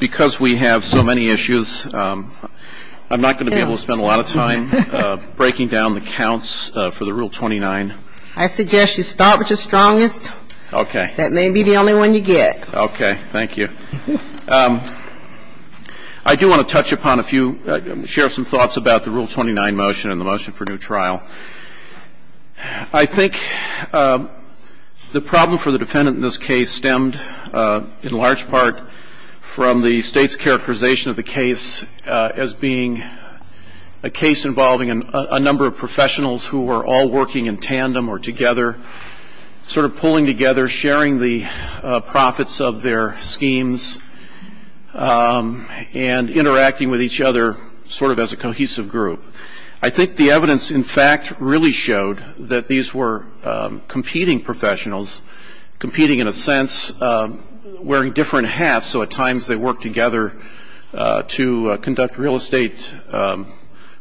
Because we have so many issues, I'm not going to be able to spend a lot of time breaking down the counts for the Rule 29. I suggest you start with the strongest. Okay. That may be the only one you get. Okay. Thank you. I do want to touch upon a few, share some thoughts about the Rule 29 motion and the motion for new trial. I think the problem for the defendant in this case stemmed in large part from the State's characterization of the case as being a case involving a number of professionals who were all working in tandem or together, sort of pulling together, sharing the profits of their schemes, and interacting with each other sort of as a cohesive group. I think the evidence, in fact, really showed that these were competing professionals, competing in a sense, wearing different hats, so at times they worked together to conduct real estate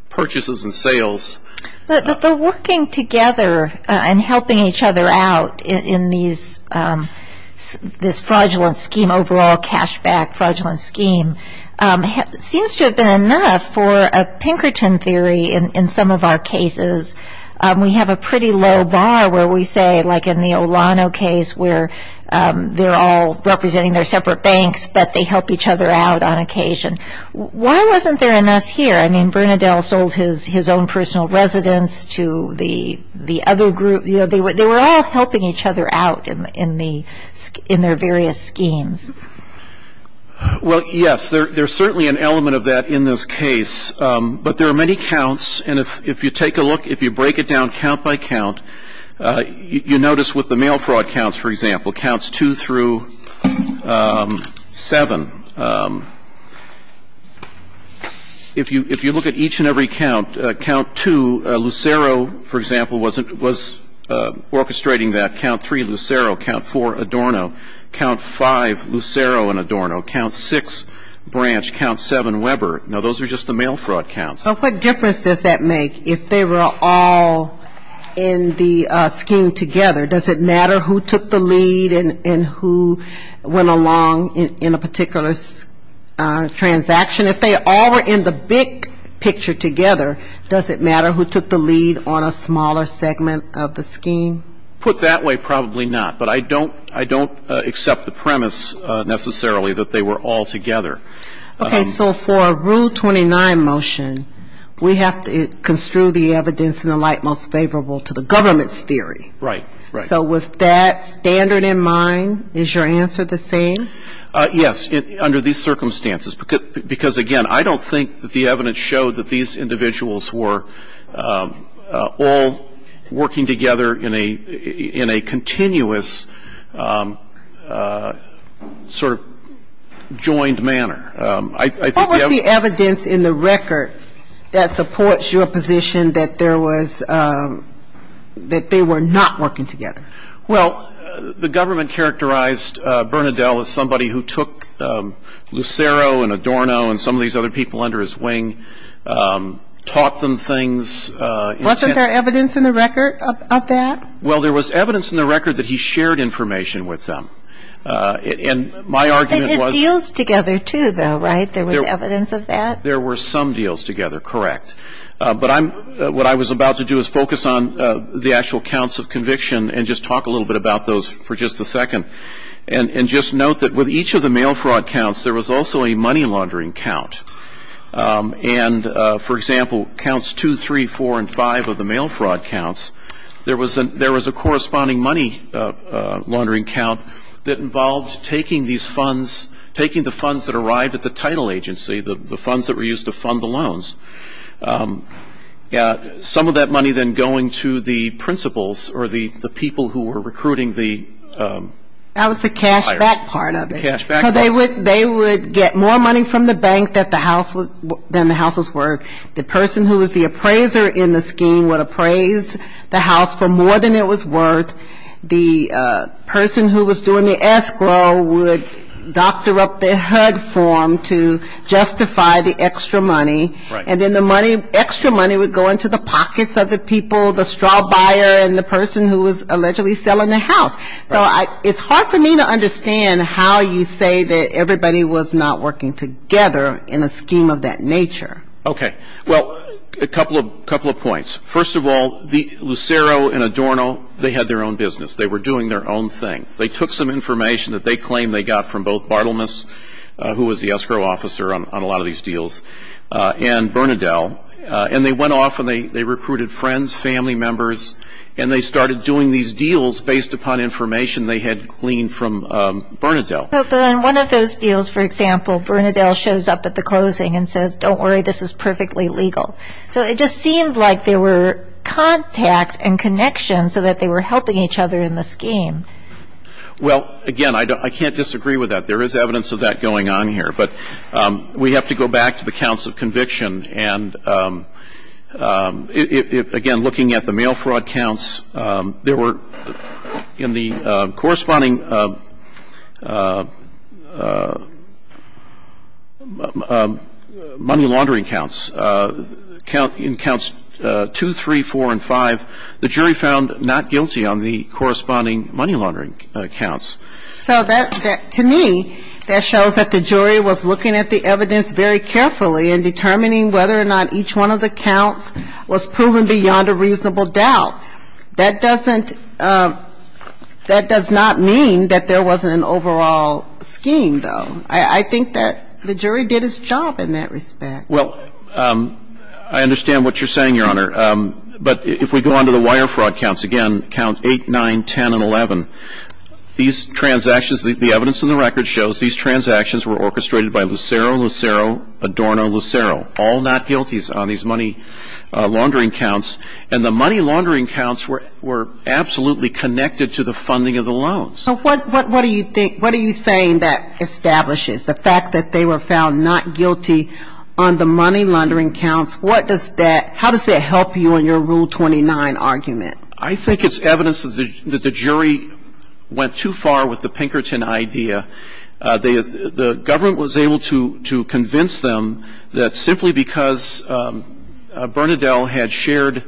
purchases and sales. The working together and helping each other out in this fraudulent scheme, overall cash back fraudulent scheme, seems to have been enough for a Pinkerton theory in some of our cases. We have a pretty low bar where we say, like in the Olano case, where they're all representing their separate banks, but they help each other out on occasion. Why wasn't there enough here? I mean, Bernadelle sold his own personal residence to the other group. They were all helping each other out in their various schemes. Well, yes, there's certainly an element of that in this case, but there are many counts. And if you take a look, if you break it down count by count, you notice with the mail fraud counts, for example, counts 2 through 7. If you look at each and every count, count 2, Lucero, for example, was orchestrating that. Count 3, Lucero. Count 4, Adorno. Count 5, Lucero and Adorno. Count 6, Branch. Count 7, Weber. Now, those are just the mail fraud counts. So what difference does that make if they were all in the scheme together? Does it matter who took the lead and who went along in a particular transaction? If they all were in the big picture together, does it matter who took the lead on a smaller segment of the scheme? Put that way, probably not. But I don't accept the premise, necessarily, that they were all together. Okay. So for a Rule 29 motion, we have to construe the evidence in the light most favorable to the government's theory. Right. So with that standard in mind, is your answer the same? Yes, under these circumstances. Because, again, I don't think that the evidence showed that these individuals were all working together in a continuous sort of joined manner. What was the evidence in the record that supports your position that there was, that they were not working together? Well, the government characterized Bernadelle as somebody who took Lucero and Adorno and some of these other people under his wing, taught them things. Wasn't there evidence in the record of that? Well, there was evidence in the record that he shared information with them. And my argument was — But they did deals together, too, though, right? There was evidence of that? There were some deals together, correct. But I'm — what I was about to do is focus on the actual counts of conviction and just talk a little bit about those for just a second. And just note that with each of the mail fraud counts, there was also a money laundering count. And, for example, counts 2, 3, 4, and 5 of the mail fraud counts, there was a corresponding money laundering count that involved taking these funds, taking the funds that arrived at the title agency, the funds that were used to fund the loans, some of that money then going to the principals or the people who were recruiting the — That was the cash back part of it. The cash back part. So they would get more money from the bank than the house was worth. The person who was the appraiser in the scheme would appraise the house for more than it was worth. The person who was doing the escrow would doctor up their HUD form to justify the extra money. And then the money — extra money would go into the pockets of the people, the straw buyer and the person who was allegedly selling the house. So it's hard for me to understand how you say that everybody was not working together in a scheme of that nature. Okay. Well, a couple of points. First of all, Lucero and Adorno, they had their own business. They were doing their own thing. They took some information that they claimed they got from both Bartlemus, who was the escrow officer on a lot of these deals, and Bernadelle, and they went off and they recruited friends, family members, and they started doing these deals based upon information they had gleaned from Bernadelle. And one of those deals, for example, Bernadelle shows up at the closing and says, don't worry, this is perfectly legal. So it just seemed like there were contacts and connections so that they were helping each other in the scheme. Well, again, I can't disagree with that. There is evidence of that going on here. But we have to go back to the counts of conviction. And, again, looking at the mail fraud counts, there were in the corresponding money laundering counts, in counts 2, 3, 4, and 5, the jury found not guilty on the corresponding money laundering counts. So that, to me, that shows that the jury was looking at the evidence very carefully in determining whether or not each one of the counts was proven beyond a reasonable doubt. That doesn't – that does not mean that there wasn't an overall scheme, though. I think that the jury did its job in that respect. Well, I understand what you're saying, Your Honor. But if we go on to the wire fraud counts, again, count 8, 9, 10, and 11, these transactions – the evidence in the record shows these transactions were orchestrated by Lucero, Lucero, Adorno, Lucero, all not guilties on these money laundering counts. And the money laundering counts were absolutely connected to the funding of the loans. So what do you think – what are you saying that establishes the fact that they were found not guilty on the money laundering counts? What does that – how does that help you in your Rule 29 argument? I think it's evidence that the jury went too far with the Pinkerton idea. The government was able to convince them that simply because Bernadelle had shared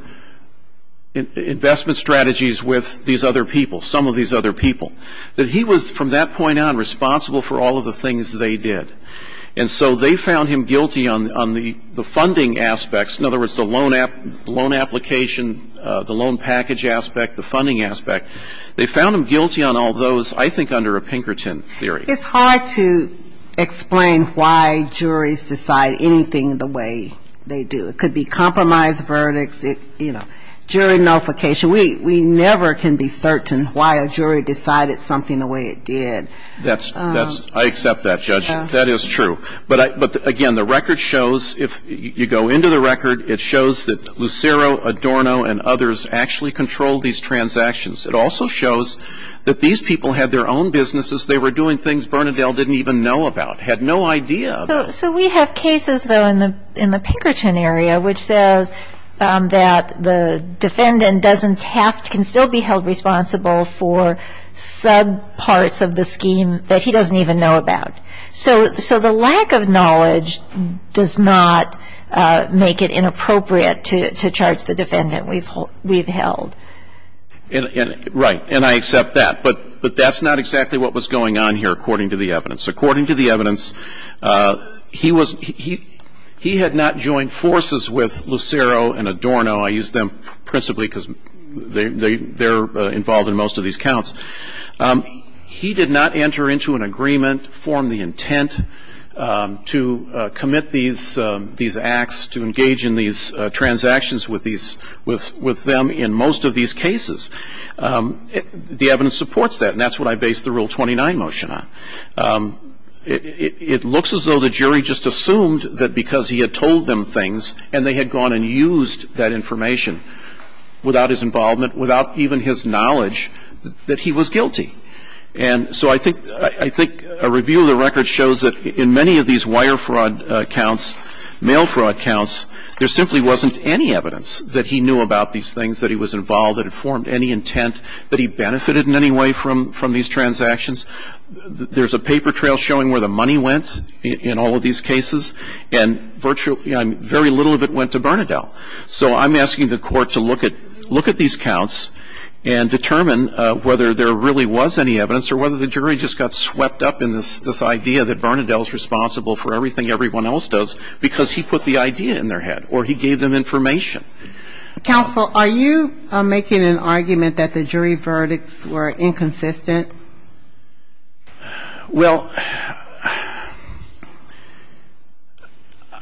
investment strategies with these other people, some of these other people, that he was, from that point on, responsible for all of the things they did. And so they found him guilty on the funding aspects. In other words, the loan application, the loan package aspect, the funding aspect. They found him guilty on all those, I think, under a Pinkerton theory. It's hard to explain why juries decide anything the way they do. It could be compromise verdicts. It's, you know, jury notification. We never can be certain why a jury decided something the way it did. That's – I accept that, Judge. That is true. But, again, the record shows, if you go into the record, it shows that Lucero, Adorno, and others actually controlled these transactions. It also shows that these people had their own businesses. They were doing things Bernadelle didn't even know about, had no idea about. So we have cases, though, in the Pinkerton area which says that the defendant doesn't have – can still be held responsible for subparts of the scheme that he doesn't even know about. So the lack of knowledge does not make it inappropriate to charge the defendant we've held. Right. And I accept that. But that's not exactly what was going on here, according to the evidence. According to the evidence, he was – he had not joined forces with Lucero and Adorno. I use them principally because they're involved in most of these counts. He did not enter into an agreement, form the intent to commit these acts, to engage in these transactions with these – with them in most of these cases. The evidence supports that, and that's what I base the Rule 29 motion on. It looks as though the jury just assumed that because he had told them things and they had gone and used that information without his involvement, without even his knowledge, that he was guilty. And so I think – I think a review of the record shows that in many of these wire fraud counts, mail fraud counts, there simply wasn't any evidence that he knew about these things, that he was involved, that it formed any intent, that he benefited in any way from these transactions. There's a paper trail showing where the money went in all of these cases, and virtually very little of it went to Bernadelle. So I'm asking the court to look at these counts and determine whether there really was any evidence or whether the jury just got swept up in this idea that Bernadelle's responsible for everything everyone else does because he put the idea in their head or he gave them information. Counsel, are you making an argument that the jury verdicts were inconsistent? Well,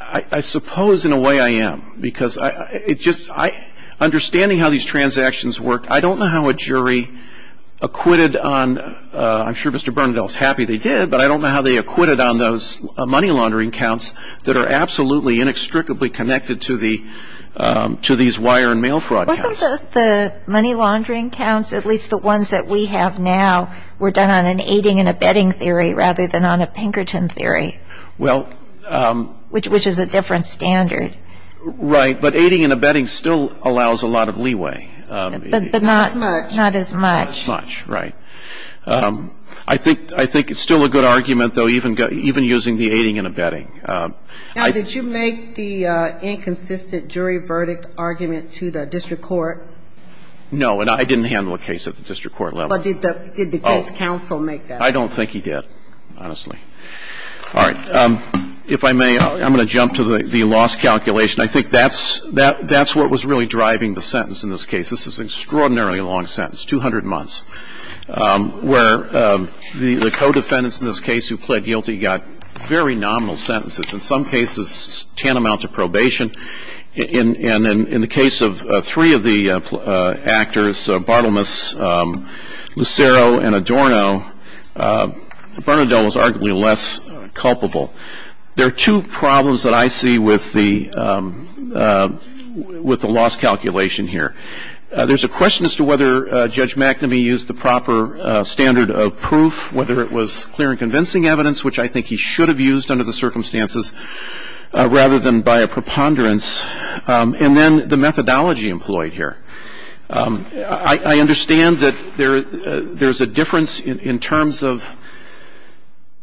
I suppose in a way I am because it just – understanding how these transactions work, I don't know how a jury acquitted on – I'm sure Mr. Bernadelle's happy they did, but I don't know how they acquitted on those money laundering counts that are absolutely, inextricably connected to the – to these wire and mail fraud counts. Wasn't the money laundering counts, at least the ones that we have now, were done on an aiding and abetting theory rather than on a Pinkerton theory? Well – Which is a different standard. Right. But aiding and abetting still allows a lot of leeway. But not as much. Not as much. Not as much. Right. I think it's still a good argument, though, even using the aiding and abetting. Now, did you make the inconsistent jury verdict argument to the district court? No. And I didn't handle a case at the district court level. But did the case counsel make that? I don't think he did, honestly. All right. If I may, I'm going to jump to the loss calculation. I think that's what was really driving the sentence in this case. This is an extraordinarily long sentence, 200 months, where the co-defendants in this case who pled guilty got very nominal sentences, in some cases tantamount to probation. And in the case of three of the actors, Bartlemus, Lucero, and Adorno, Bernadone was arguably less culpable. There are two problems that I see with the loss calculation here. There's a question as to whether Judge McNamee used the proper standard of proof, whether it was clear and convincing evidence, which I think he should have used under the circumstances rather than by a preponderance. And then the methodology employed here. I understand that there's a difference in terms of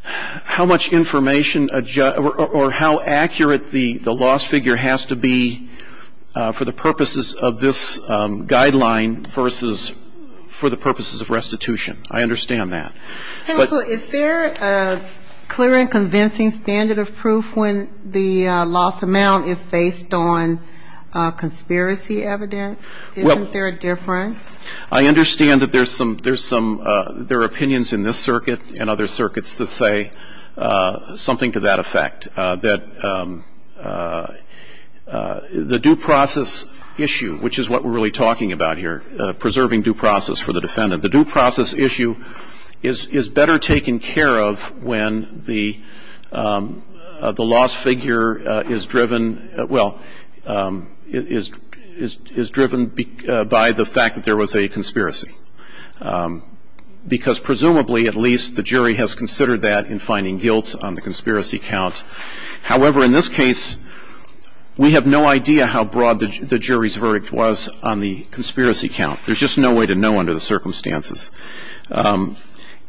how much information or how accurate the loss figure has to be for the purposes of this guideline versus for the purposes of restitution. I understand that. Counsel, is there a clear and convincing standard of proof when the loss amount is based on conspiracy evidence? Isn't there a difference? I understand that there are opinions in this circuit and other circuits that say something to that effect, that the due process issue, which is what we're really talking about here, preserving due process for the defendant. The due process issue is better taken care of when the loss figure is driven, well, is driven by the fact that there was a conspiracy. Because presumably at least the jury has considered that in finding guilt on the conspiracy count. However, in this case, we have no idea how broad the jury's verdict was on the conspiracy count. There's just no way to know under the circumstances. And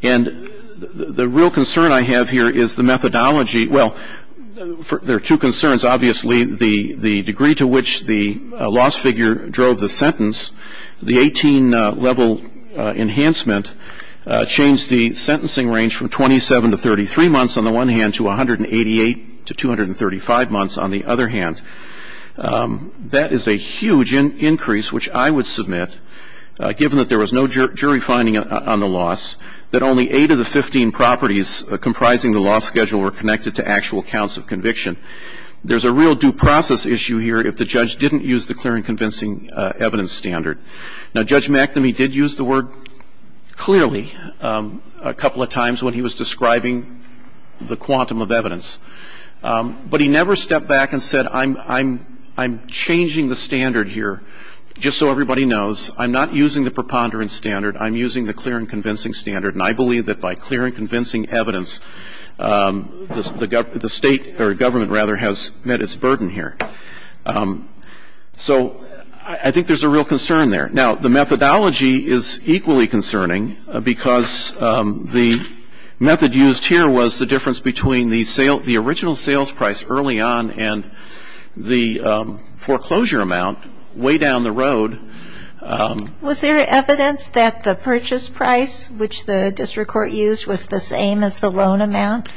the real concern I have here is the methodology. Well, there are two concerns. Obviously, the degree to which the loss figure drove the sentence, the 18-level enhancement changed the sentencing range from 27 to 33 months on the one hand to 188 to 235 months on the other hand. That is a huge increase, which I would submit, given that there was no jury finding on the loss, that only 8 of the 15 properties comprising the loss schedule were connected to actual counts of conviction. There's a real due process issue here if the judge didn't use the clear and convincing evidence standard. Now, Judge McNamee did use the word clearly a couple of times when he was describing the quantum of evidence. But he never stepped back and said, I'm changing the standard here just so everybody knows. I'm not using the preponderance standard. I'm using the clear and convincing standard. And I believe that by clear and convincing evidence, the State or government, rather, has met its burden here. So I think there's a real concern there. Now, the methodology is equally concerning because the method used here was the difference between the original sales price early on and the foreclosure amount way down the road. Was there evidence that the purchase price, which the district court used, was the same as the loan amount?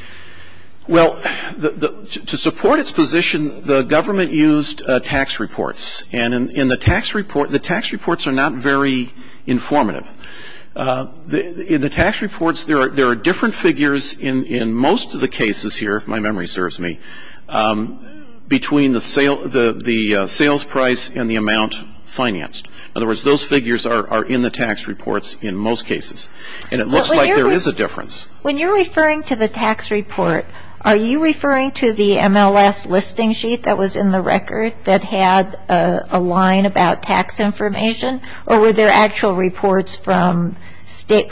Well, to support its position, the government used tax reports. And in the tax report, the tax reports are not very informative. In the tax reports, there are different figures in most of the cases here, if my memory serves me, between the sales price and the amount financed. In other words, those figures are in the tax reports in most cases. And it looks like there is a difference. When you're referring to the tax report, are you referring to the MLS listing sheet that was in the record that had a line about tax information, or were there actual reports from state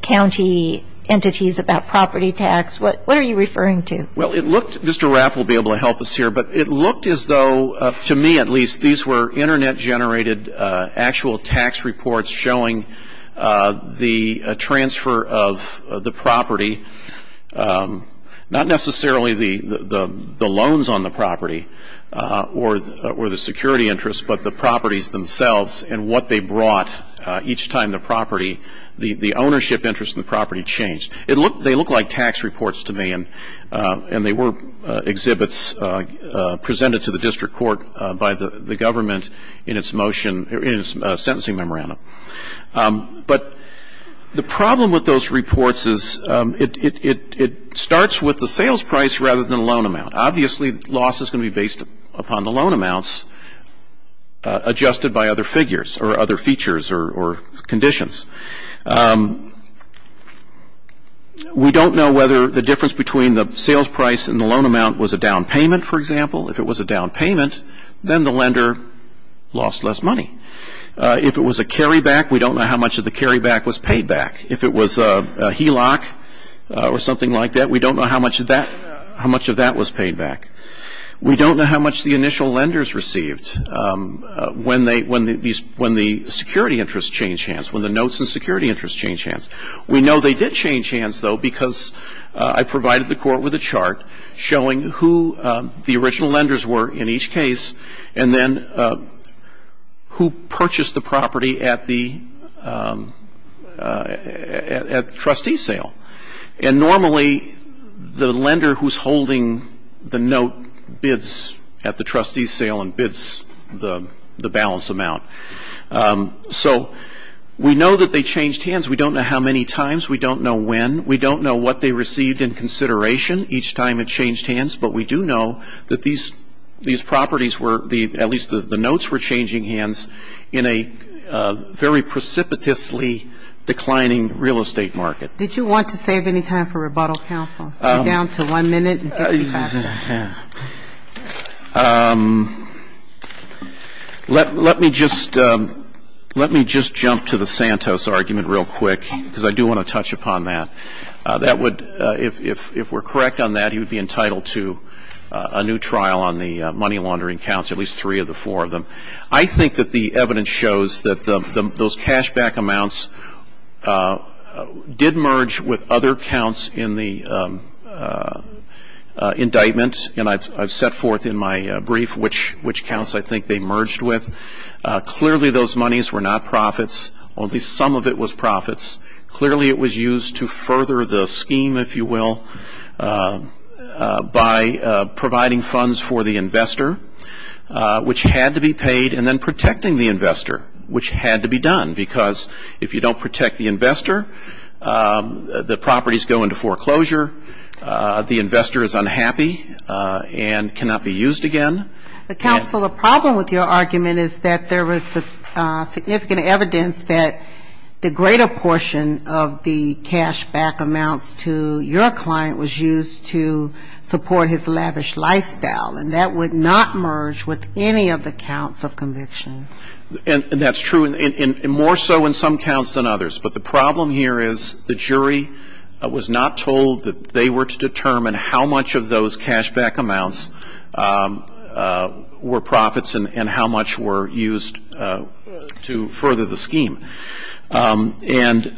county entities about property tax? What are you referring to? Well, it looked – Mr. Rapp will be able to help us here – but it looked as though, to me at least, these were Internet-generated actual tax reports showing the transfer of the property, not necessarily the loans on the property or the security interest, but the properties themselves and what they brought each time the property – the ownership interest in the property changed. They look like tax reports to me, and they were exhibits presented to the district court by the government in its motion – in its sentencing memorandum. But the problem with those reports is it starts with the sales price rather than the loan amount. Obviously, loss is going to be based upon the loan amounts adjusted by other figures or other features or conditions. We don't know whether the difference between the sales price and the loan amount was a down payment, for example. If it was a down payment, then the lender lost less money. If it was a carryback, we don't know how much of the carryback was paid back. If it was a HELOC or something like that, we don't know how much of that was paid back. We don't know how much the initial lenders received when the security interest changed hands, when the notes and security interest changed hands. We know they did change hands, though, because I provided the court with a chart showing who the original lenders were in each case and then who purchased the property at the trustee sale. And normally, the lender who's holding the note bids at the trustee sale and bids the balance amount. So we know that they changed hands. We don't know how many times. We don't know when. We don't know what they received in consideration each time it changed hands. But we do know that these properties were, at least the notes were changing hands in a very precipitously declining real estate market. Did you want to save any time for rebuttal, counsel? We're down to one minute and 50 seconds. Let me just jump to the Santos argument real quick, because I do want to touch upon that. That would, if we're correct on that, he would be entitled to a new trial on the money laundering counts, at least three of the four of them. I think that the evidence shows that those cashback amounts did merge with other counts in the indictment. And I've set forth in my brief which counts I think they merged with. Clearly, those monies were not profits. Only some of it was profits. Clearly, it was used to further the scheme, if you will, by providing funds for the investor, which had to be paid, and then protecting the investor, which had to be done. Because if you don't protect the investor, the properties go into foreclosure. The investor is unhappy and cannot be used again. Counsel, the problem with your argument is that there was significant evidence that the greater portion of the cashback amounts to your client was used to support his lavish lifestyle, and that would not merge with any of the counts of conviction. And that's true, and more so in some counts than others. But the problem here is the jury was not told that they were to determine how much of those cashback amounts were profits and how much were used to further the scheme. And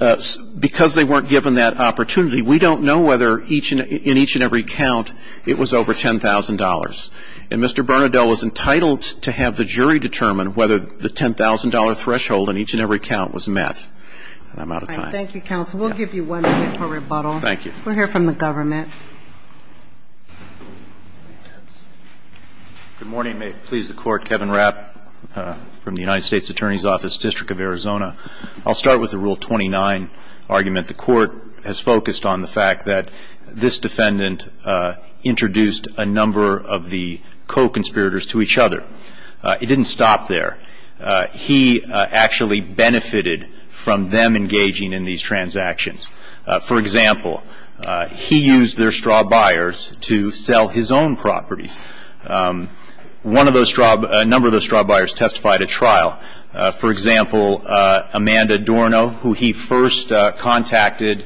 because they weren't given that opportunity, we don't know whether in each and every count it was over $10,000. And Mr. Bernadelle was entitled to have the jury determine whether the $10,000 threshold in each and every count was met. I'm out of time. Thank you, counsel. We'll give you one minute for rebuttal. Thank you. We'll hear from the government. Good morning. May it please the Court. Kevin Rapp from the United States Attorney's Office, District of Arizona. I'll start with the Rule 29 argument. The Court has focused on the fact that this defendant introduced a number of the co-conspirators to each other. It didn't stop there. He actually benefited from them engaging in these transactions. For example, he used their straw buyers to sell his own properties. A number of those straw buyers testified at trial. For example, Amanda Dorno, who he first contacted,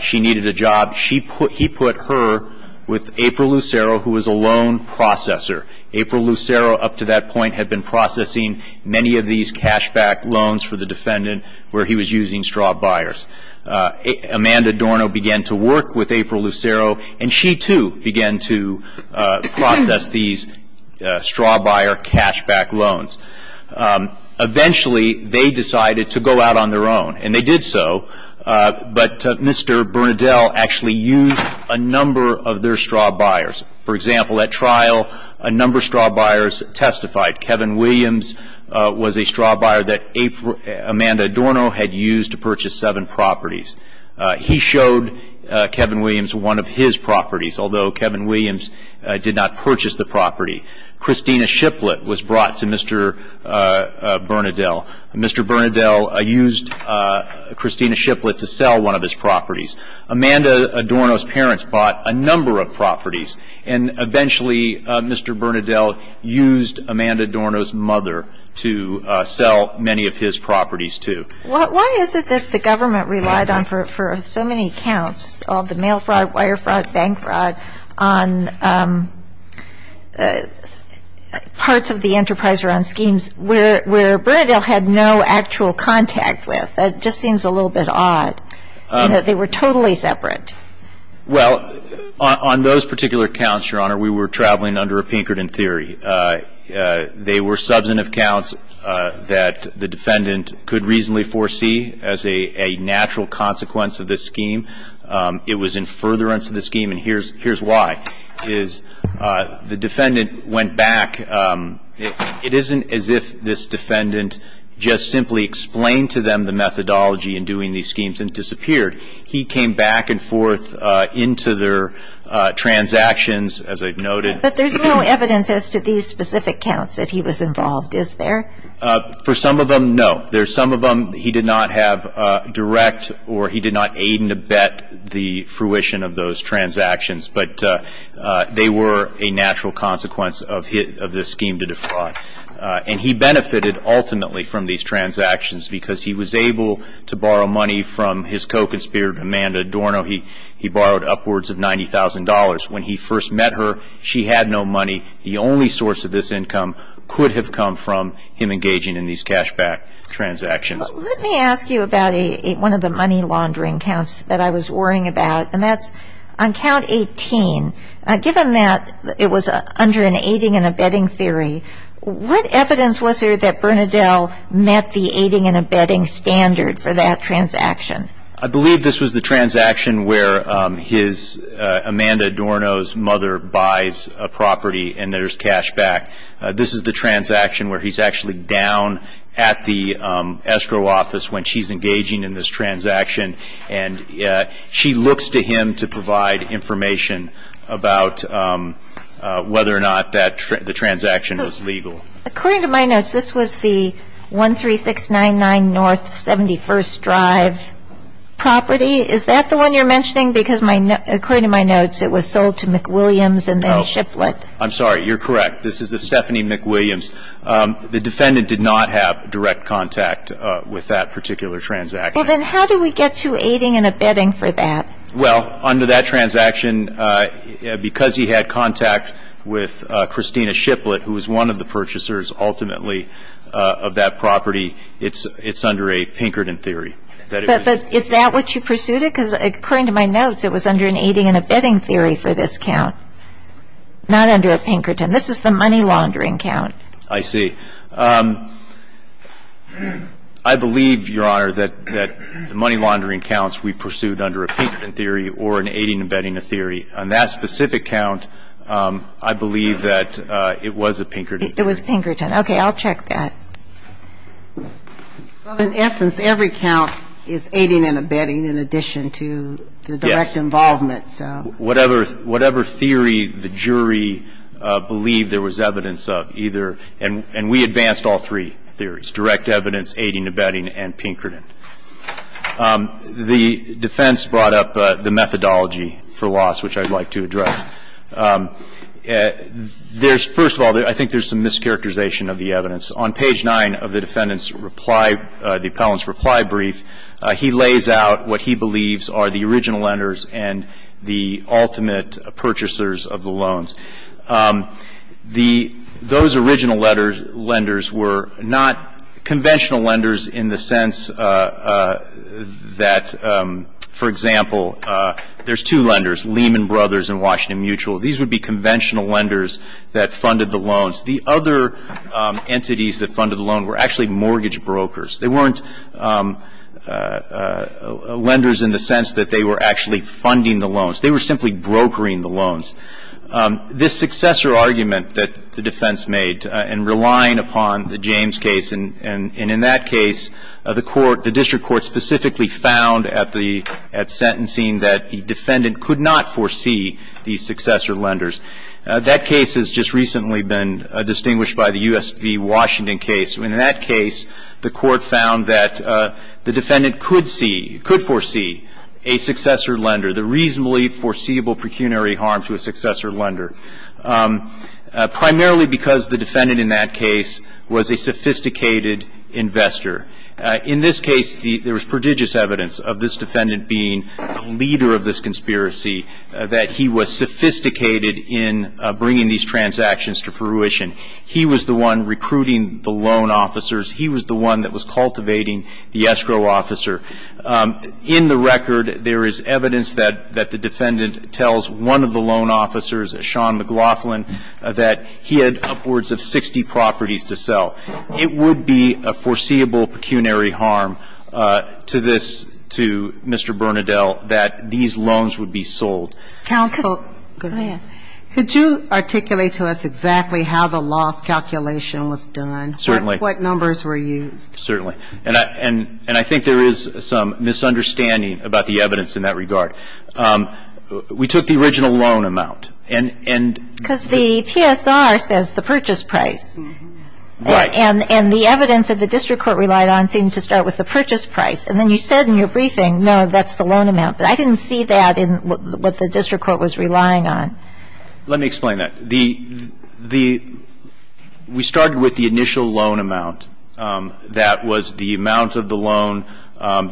she needed a job. He put her with April Lucero, who was a loan processor. April Lucero up to that point had been processing many of these cashback loans for the defendant where he was using straw buyers. Amanda Dorno began to work with April Lucero, and she, too, began to process these straw buyer cashback loans. Eventually, they decided to go out on their own, and they did so. But Mr. Bernadelle actually used a number of their straw buyers. For example, at trial, a number of straw buyers testified. Kevin Williams was a straw buyer that Amanda Dorno had used to purchase seven properties. He showed Kevin Williams one of his properties, although Kevin Williams did not purchase the property. Christina Shiplett was brought to Mr. Bernadelle. Mr. Bernadelle used Christina Shiplett to sell one of his properties. Amanda Dorno's parents bought a number of properties, and eventually Mr. Bernadelle used Amanda Dorno's mother to sell many of his properties, too. Why is it that the government relied on, for so many accounts, all the mail fraud, wire fraud, bank fraud, on parts of the Enterprise Run schemes where Bernadelle had no actual contact with? That just seems a little bit odd, in that they were totally separate. Well, on those particular accounts, Your Honor, we were traveling under a Pinkerton theory. They were substantive accounts that the defendant could reasonably foresee as a natural consequence of this scheme. It was in furtherance of the scheme, and here's why. The defendant went back. It isn't as if this defendant just simply explained to them the methodology in doing these schemes and disappeared. He came back and forth into their transactions, as I've noted. But there's no evidence as to these specific accounts that he was involved, is there? For some of them, no. There's some of them he did not have direct or he did not aid and abet the fruition of those transactions, but they were a natural consequence of this scheme to defraud. And he benefited ultimately from these transactions because he was able to borrow money from his co-conspirator, Amanda Adorno. He borrowed upwards of $90,000. When he first met her, she had no money. The only source of this income could have come from him engaging in these cashback transactions. Let me ask you about one of the money laundering counts that I was worrying about, and that's on count 18. Given that it was under an aiding and abetting theory, what evidence was there that Bernadelle met the aiding and abetting standard for that transaction? I believe this was the transaction where Amanda Adorno's mother buys a property and there's cashback. This is the transaction where he's actually down at the escrow office when she's engaging in this transaction, and she looks to him to provide information about whether or not the transaction was legal. According to my notes, this was the 13699 North 71st Drive property. Is that the one you're mentioning? Because according to my notes, it was sold to McWilliams and then Shiplett. I'm sorry. You're correct. This is a Stephanie McWilliams. The defendant did not have direct contact with that particular transaction. Well, then how do we get to aiding and abetting for that? Well, under that transaction, because he had contact with Christina Shiplett, who was one of the purchasers ultimately of that property, it's under a Pinkerton theory. But is that what you pursued? Because according to my notes, it was under an aiding and abetting theory for this count, not under a Pinkerton. This is the money laundering count. I see. I believe, Your Honor, that the money laundering counts we pursued under a Pinkerton theory or an aiding and abetting a theory. On that specific count, I believe that it was a Pinkerton. It was Pinkerton. Okay. I'll check that. Well, in essence, every count is aiding and abetting in addition to the direct involvement. Yes. Whatever theory the jury believed there was evidence of, either, and we advanced all three theories, direct evidence, aiding, abetting, and Pinkerton. The defense brought up the methodology for loss, which I'd like to address. There's, first of all, I think there's some mischaracterization of the evidence. On page 9 of the defendant's reply, the appellant's reply brief, he lays out what he believes are the original lenders and the ultimate purchasers of the loans. Those original lenders were not conventional lenders in the sense that, for example, there's two lenders, Lehman Brothers and Washington Mutual. These would be conventional lenders that funded the loans. The other entities that funded the loan were actually mortgage brokers. They weren't lenders in the sense that they were actually funding the loans. They were simply brokering the loans. This successor argument that the defense made in relying upon the James case, and in that case, the court, the district court specifically found at the, at sentencing that the defendant could not foresee these successor lenders. That case has just recently been distinguished by the U.S. v. Washington case. In that case, the court found that the defendant could see, could foresee a successor lender, the reasonably foreseeable pecuniary harm to a successor lender, primarily because the defendant in that case was a sophisticated investor. In this case, there was prodigious evidence of this defendant being the leader of this conspiracy, that he was sophisticated in bringing these transactions to fruition. He was the one recruiting the loan officers. He was the one that was cultivating the escrow officer. In the record, there is evidence that the defendant tells one of the loan officers, Sean McLaughlin, that he had upwards of 60 properties to sell. It would be a foreseeable pecuniary harm to this, to Mr. Bernadelle, that these loans would be sold. Counsel, go ahead. Could you articulate to us exactly how the loss calculation was done? Certainly. What numbers were used? Certainly. And I think there is some misunderstanding about the evidence in that regard. We took the original loan amount. Because the PSR says the purchase price. Right. And the evidence that the district court relied on seemed to start with the purchase price. And then you said in your briefing, no, that's the loan amount. But I didn't see that in what the district court was relying on. Let me explain that. The – we started with the initial loan amount. That was the amount of the loan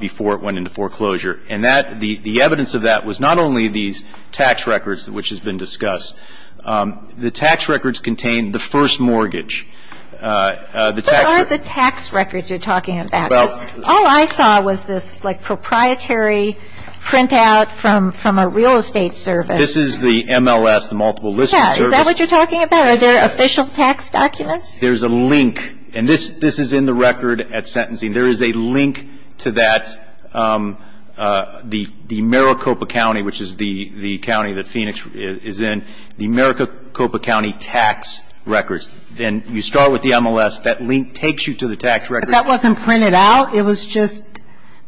before it went into foreclosure. And that – the evidence of that was not only these tax records, which has been discussed. The tax records contained the first mortgage. The tax records. What are the tax records you're talking about? All I saw was this, like, proprietary printout from a real estate service. This is the MLS, the multiple listing service. Yeah. Is that what you're talking about? Are there official tax documents? There's a link. And this is in the record at sentencing. There is a link to that, the Maricopa County, which is the county that Phoenix is in, the Maricopa County tax records. And you start with the MLS. That link takes you to the tax records. That wasn't printed out? It was just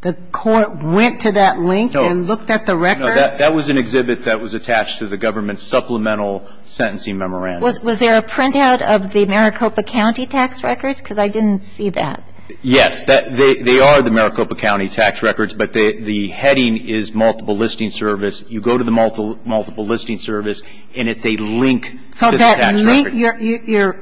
the court went to that link and looked at the records? No. That was an exhibit that was attached to the government's supplemental sentencing memorandum. Was there a printout of the Maricopa County tax records? Because I didn't see that. Yes. They are the Maricopa County tax records, but the heading is multiple listing service. So that link,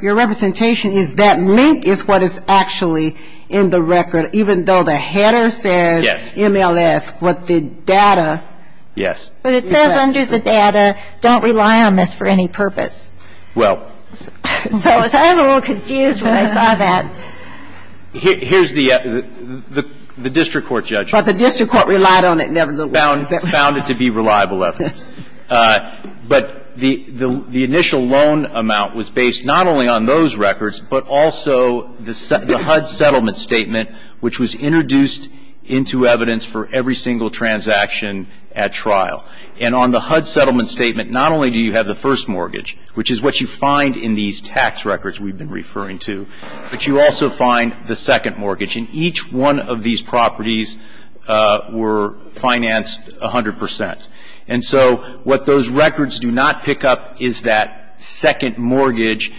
your representation is that link is what is actually in the record, even though the header says MLS, but the data. Yes. But it says under the data, don't rely on this for any purpose. Well. So I was a little confused when I saw that. Here's the district court judgment. But the district court relied on it nevertheless. Found it to be reliable evidence. But the initial loan amount was based not only on those records, but also the HUD settlement statement, which was introduced into evidence for every single transaction at trial. And on the HUD settlement statement, not only do you have the first mortgage, which is what you find in these tax records we've been referring to, but you also find the second mortgage. And each one of these properties were financed 100 percent. And so what those records do not pick up is that second mortgage,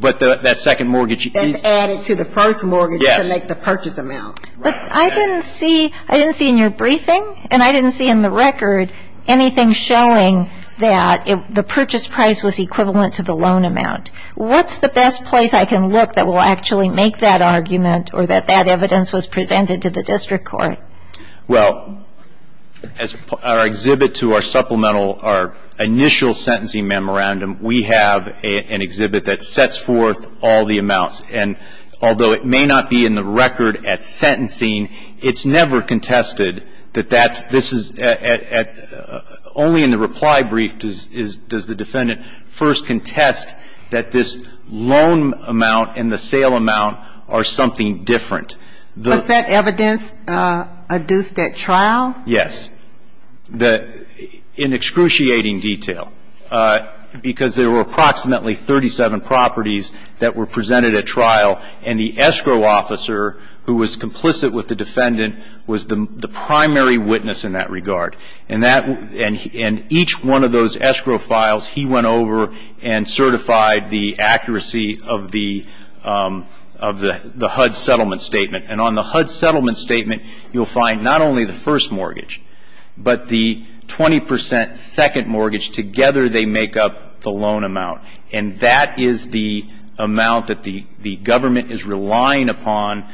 but that second mortgage. That's added to the first mortgage to make the purchase amount. Yes. But I didn't see, I didn't see in your briefing, and I didn't see in the record, anything showing that the purchase price was equivalent to the loan amount. What's the best place I can look that will actually make that argument, or that that evidence was presented to the district court? Well, as our exhibit to our supplemental, our initial sentencing memorandum, we have an exhibit that sets forth all the amounts. And although it may not be in the record at sentencing, it's never contested that that's, this is at, only in the reply brief does the defendant first contest that this loan amount and the sale amount are something different. Was that evidence adduced at trial? Yes. In excruciating detail. Because there were approximately 37 properties that were presented at trial, and the escrow officer who was complicit with the defendant was the primary witness in that regard. And that, and each one of those escrow files, he went over and certified the accuracy of the HUD settlement statement. And on the HUD settlement statement, you'll find not only the first mortgage, but the 20 percent second mortgage, together they make up the loan amount. And that is the amount that the government is relying upon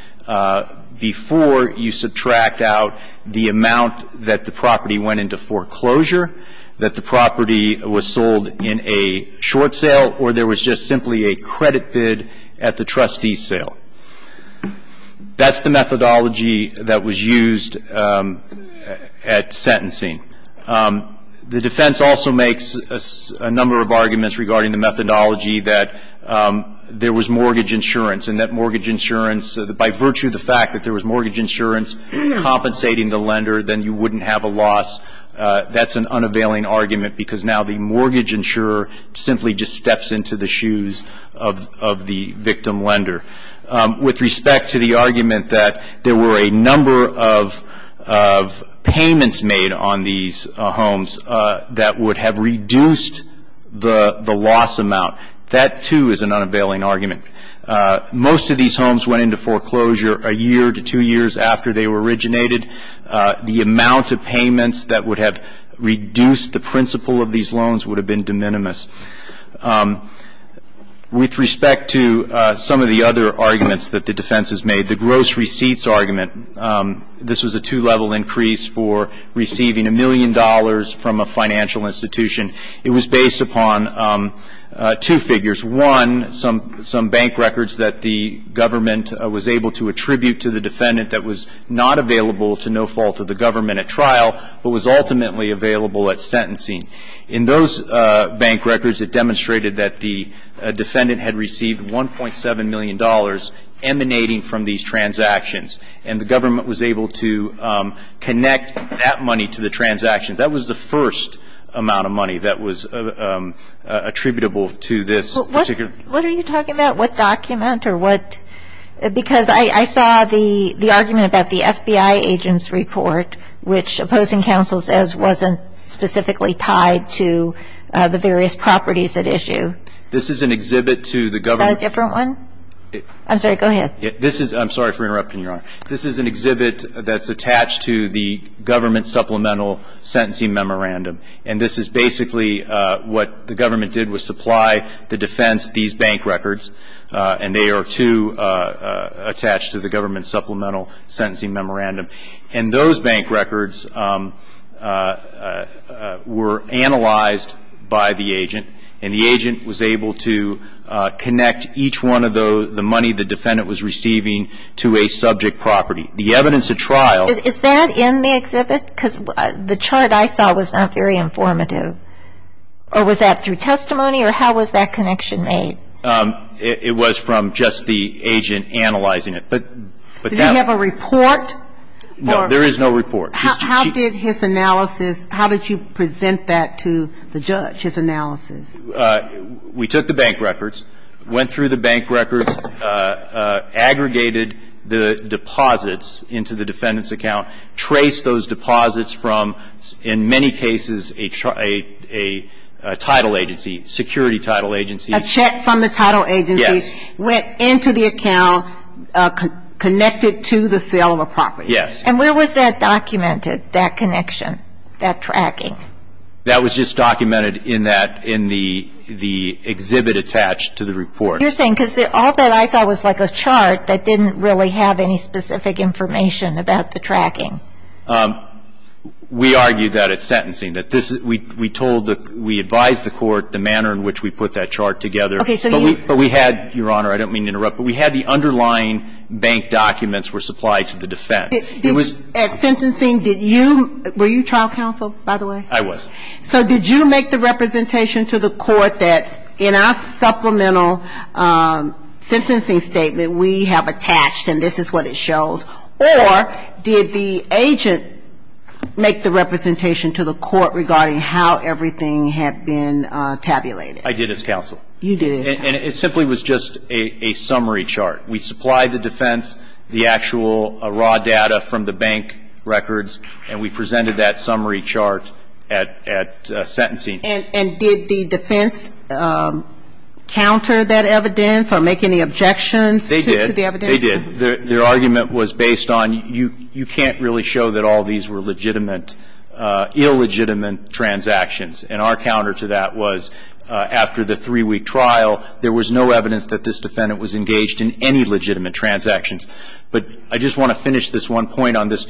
before you subtract out the amount that the property went into foreclosure, that the property was sold in a short sale, or there was just simply a credit bid at the trustee's sale. That's the methodology that was used at sentencing. The defense also makes a number of arguments regarding the methodology that there was mortgage insurance, and that mortgage insurance, by virtue of the fact that there was mortgage insurance compensating the lender, then you wouldn't have a loss. That's an unavailing argument because now the mortgage insurer simply just steps into the shoes of the victim lender. With respect to the argument that there were a number of payments made on these homes that would have reduced the loss amount, that, too, is an unavailing argument. Most of these homes went into foreclosure a year to two years after they were originated. The amount of payments that would have reduced the principle of these loans would have been de minimis. With respect to some of the other arguments that the defense has made, the gross receipts argument, this was a two-level increase for receiving a million dollars from a financial institution. It was based upon two figures. One, some bank records that the government was able to attribute to the defendant that was not available to no fault of the government at trial, but was ultimately available at sentencing. In those bank records, it demonstrated that the defendant had received $1.7 million emanating from these transactions, and the government was able to connect that money to the transaction. That was the first amount of money that was attributable to this particular. What are you talking about? What document or what? Because I saw the argument about the FBI agent's report, which opposing counsel says wasn't specifically tied to the various properties at issue. This is an exhibit to the government. Is that a different one? I'm sorry, go ahead. I'm sorry for interrupting, Your Honor. This is an exhibit that's attached to the government supplemental sentencing memorandum. And this is basically what the government did was supply the defense these bank records, and they are, too, attached to the government supplemental sentencing memorandum. And those bank records were analyzed by the agent, and the agent was able to connect each one of the money the defendant was receiving to a subject property. The evidence at trial ---- So the defendant's report was not directly informative, or was that through testimony or how was that connection made? It was from just the agent analyzing it. But that's ---- Did he have a report? No, there is no report. How did his analysis ---- how did you present that to the judge, his analysis? We took the bank records, went through the bank records, aggregated the deposits into the defendant's account, traced those deposits from, in many cases, a title agency, security title agency. A check from the title agency. Yes. Went into the account, connected to the sale of a property. Yes. And where was that documented, that connection, that tracking? That was just documented in that ---- in the exhibit attached to the report. You're saying because all that I saw was like a chart that didn't really have any specific information about the tracking. We argued that at sentencing, that this is ---- we told the ---- we advised the court the manner in which we put that chart together. Okay. So you ---- But we had, Your Honor, I don't mean to interrupt, but we had the underlying bank documents were supplied to the defense. It was ---- At sentencing, did you ---- were you trial counsel, by the way? I was. So did you make the representation to the court that in our supplemental sentencing statement, we have attached and this is what it shows, or did the agent make the representation to the court regarding how everything had been tabulated? I did as counsel. You did as counsel. And it simply was just a summary chart. We supplied the defense the actual raw data from the bank records, and we presented that summary chart at sentencing. And did the defense counter that evidence or make any objections to the evidence? They did. They did. Their argument was based on you can't really show that all these were legitimate ---- illegitimate transactions. And our counter to that was after the three-week trial, there was no evidence that this defendant was engaged in any legitimate transactions. Now, let me finish this one point. Okay.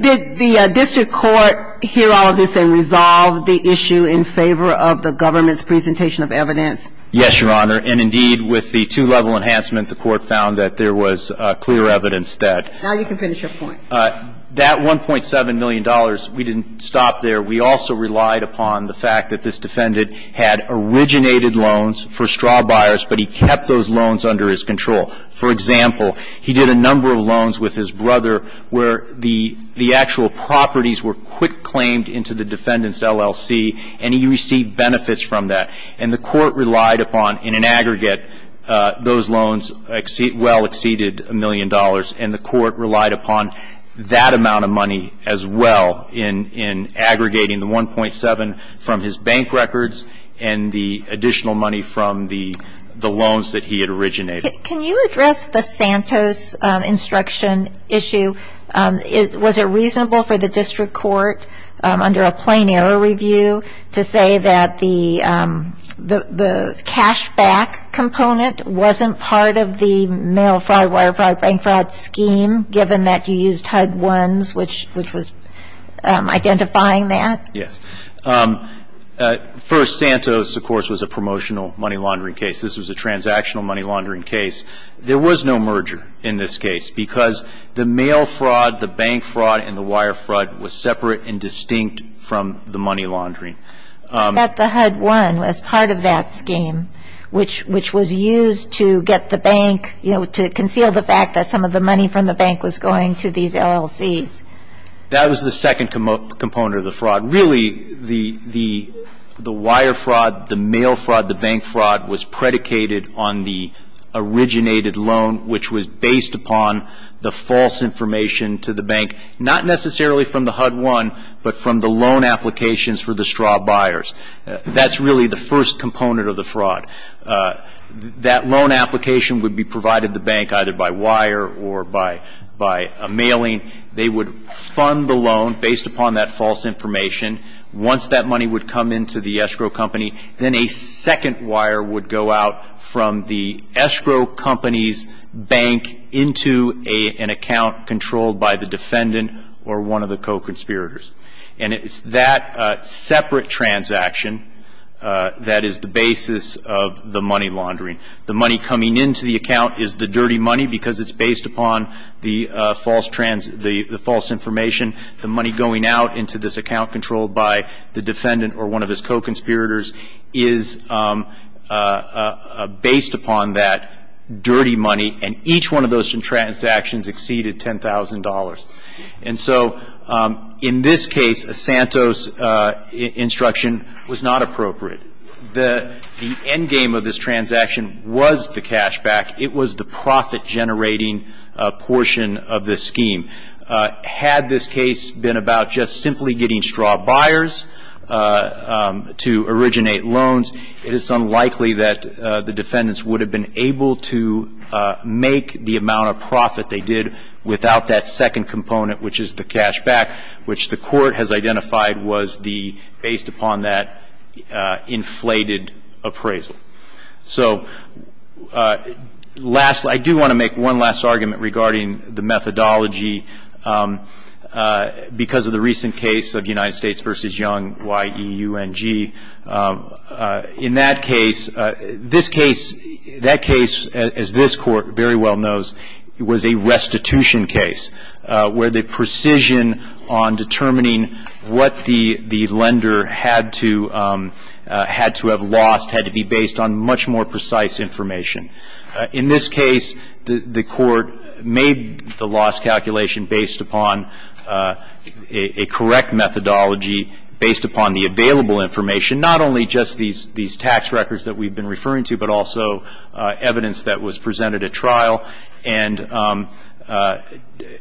Did the district court hear all of this and resolve the issue in favor of the government's presentation of evidence? Yes, Your Honor. And, indeed, with the two-level enhancement, the court found that there was clear evidence that ---- Now you can finish your point. That $1.7 million, we didn't stop there. We also relied upon the fact that this defendant had originated loans for straw buyers, but he kept those loans under his control. For example, he did a number of loans with his brother where the actual properties were quick claimed into the defendant's LLC, and he received benefits from that. And the court relied upon, in an aggregate, those loans well exceeded a million dollars, and the court relied upon that amount of money as well in aggregating the 1.7 from his bank records and the additional money from the loans that he had originated. Can you address the Santos instruction issue? Was it reasonable for the district court, under a plain error review, to say that the cash back component wasn't part of the mail fraud, wire fraud, bank fraud scheme, given that you used HUD-1s, which was identifying that? Yes. First, Santos, of course, was a promotional money laundering case. This was a transactional money laundering case. There was no merger in this case, because the mail fraud, the bank fraud, and the wire fraud was separate and distinct from the money laundering. But the HUD-1 was part of that scheme, which was used to get the bank, you know, to conceal the fact that some of the money from the bank was going to these LLCs. That was the second component of the fraud. Really, the wire fraud, the mail fraud, the bank fraud was predicated on the originated loan, which was based upon the false information to the bank, not necessarily from the HUD-1, but from the loan applications for the straw buyers. That's really the first component of the fraud. That loan application would be provided to the bank either by wire or by mailing. They would fund the loan based upon that false information. Once that money would come into the escrow company, then a second wire would go out from the escrow company's bank into an account controlled by the defendant or one of the co-conspirators. And it's that separate transaction that is the basis of the money laundering. The money coming into the account is the dirty money because it's based upon the false information. The money going out into this account controlled by the defendant or one of his co-conspirators is based upon that dirty money, and each one of those transactions exceeded $10,000. And so in this case, a Santos instruction was not appropriate. The end game of this transaction was the cashback. It was the profit-generating portion of this scheme. Had this case been about just simply getting straw buyers to originate loans, it is unlikely that the defendants would have been able to make the amount of profit they did without that second component, which is the cashback, which the Court has identified was the, based upon that inflated appraisal. So last, I do want to make one last argument regarding the methodology. Because of the recent case of United States v. Young, Y-E-U-N-G, in that case, this case, that case, as this Court very well knows, was a restitution case where the precision on determining what the lender had to have lost had to be based on much more precise information. In this case, the Court made the loss calculation based upon a correct methodology based upon the available information, not only just these tax records that we've been referring to, but also evidence that was presented at trial, and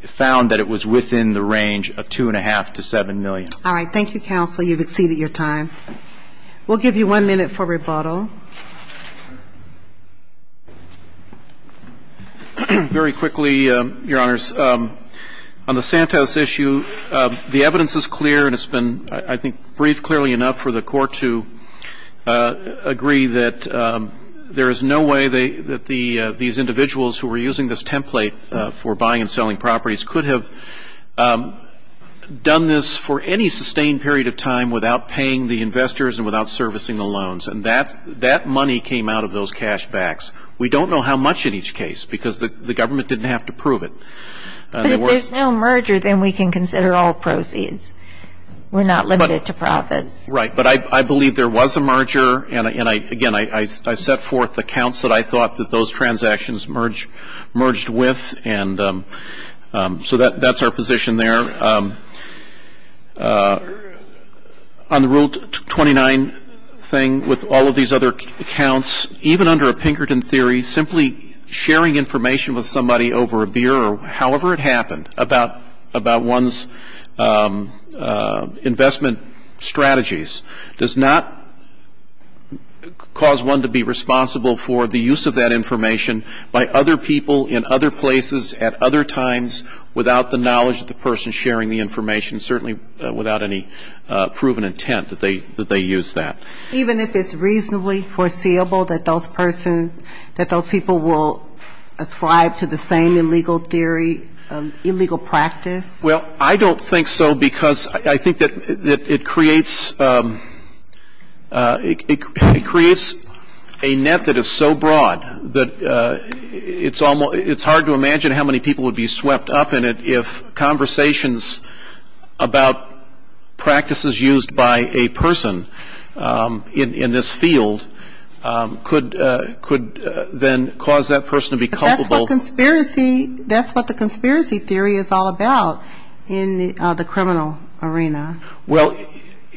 found that it was within the range of $2.5 to $7 million. All right. Thank you, counsel. You've exceeded your time. We'll give you one minute for rebuttal. Very quickly, Your Honors. On the Santos issue, the evidence is clear, and it's been, I think, briefed clearly enough for the Court to agree that there is no way that these individuals who were using this template for buying and selling properties could have done this for any sustained period of time without paying the investors and without servicing the loans. And that money came out of those cashbacks. We don't know how much in each case, because the government didn't have to prove it. But if there's no merger, then we can consider all proceeds. We're not limited to profits. Right. But I believe there was a merger. And, again, I set forth the counts that I thought that those transactions merged with. And so that's our position there. On the Rule 29 thing, with all of these other counts, even under a Pinkerton theory, simply sharing information with somebody over a beer or however it happened about one's investment strategies does not cause one to be responsible for the use of that information by other people in other places at other times without the knowledge of the person sharing the information, certainly without any proven intent that they use that. Even if it's reasonably foreseeable that those people will ascribe to the same illegal theory, illegal practice? Well, I don't think so, because I think that it creates a net that is so broad that it's hard to imagine how many people would be swept up in it if conversations about practices used by a person, in this field, could then cause that person to be culpable. But that's what the conspiracy theory is all about in the criminal arena. Well,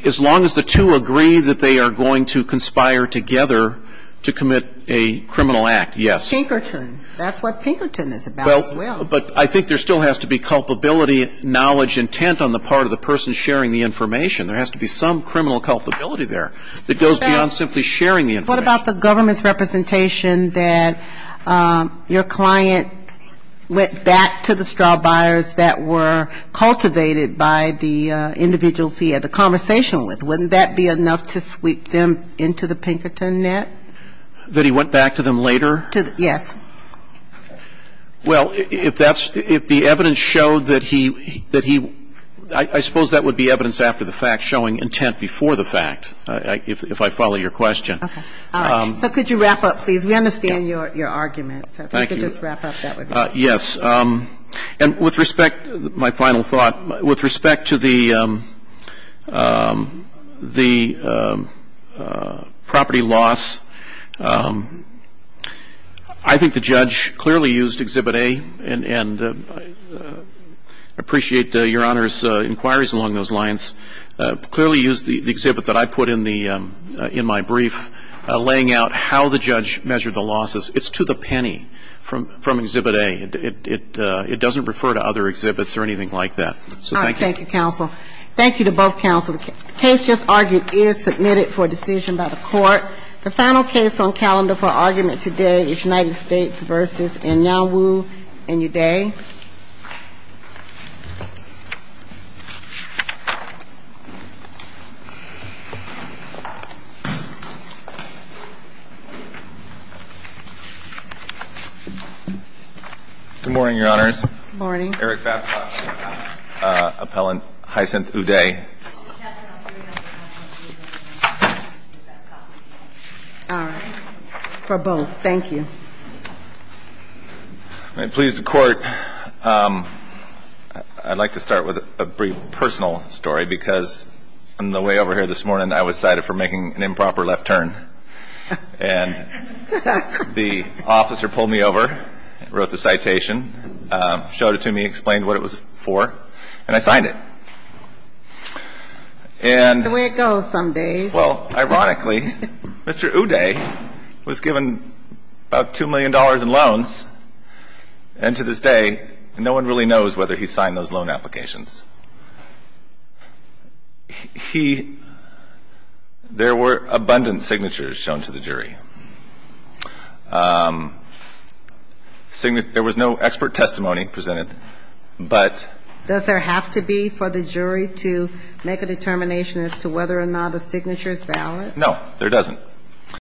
as long as the two agree that they are going to conspire together to commit a criminal act, yes. Pinkerton. That's what Pinkerton is about as well. But I think there still has to be culpability, knowledge, intent on the part of the person sharing the information. There has to be some criminal culpability there that goes beyond simply sharing the information. What about the government's representation that your client went back to the straw buyers that were cultivated by the individuals he had the conversation with? Wouldn't that be enough to sweep them into the Pinkerton net? That he went back to them later? Yes. Well, if that's, if the evidence showed that he, that he, I suppose that would be evidence after the fact showing intent before the fact, if I follow your question. Okay. All right. So could you wrap up, please? We understand your argument. Thank you. So if you could just wrap up, that would be great. Yes. And with respect, my final thought, with respect to the, the property loss, I think the judge clearly used Exhibit A, and I appreciate Your Honor's inquiries along those lines, clearly used the exhibit that I put in the, in my brief, laying out how the judge measured the losses. It's to the penny from, from Exhibit A. It, it, it doesn't refer to other exhibits or anything like that. All right. Thank you, counsel. Thank you to both counsel. The case just argued is submitted for decision by the court. The final case on calendar for argument today is United States v. Inyawu and Uday. Good morning, Your Honors. Good morning. Eric Babcock, appellant, Hysynth Uday. All right. For both. Thank you. May it please the Court, I'd like to start with a brief personal story, because on the way over here this morning, I was cited for making an improper left turn. And the officer pulled me over, wrote the citation, showed it to me, explained what it was for, and I signed it. And the way it goes some days. Well, ironically, Mr. Uday was given about $2 million in loans, and to this day, no one really knows whether he signed those loan applications. He – there were abundant signatures shown to the jury. There was no expert testimony presented, but – Does there have to be for the jury to make a determination as to whether or not a signature is valid? No, there doesn't.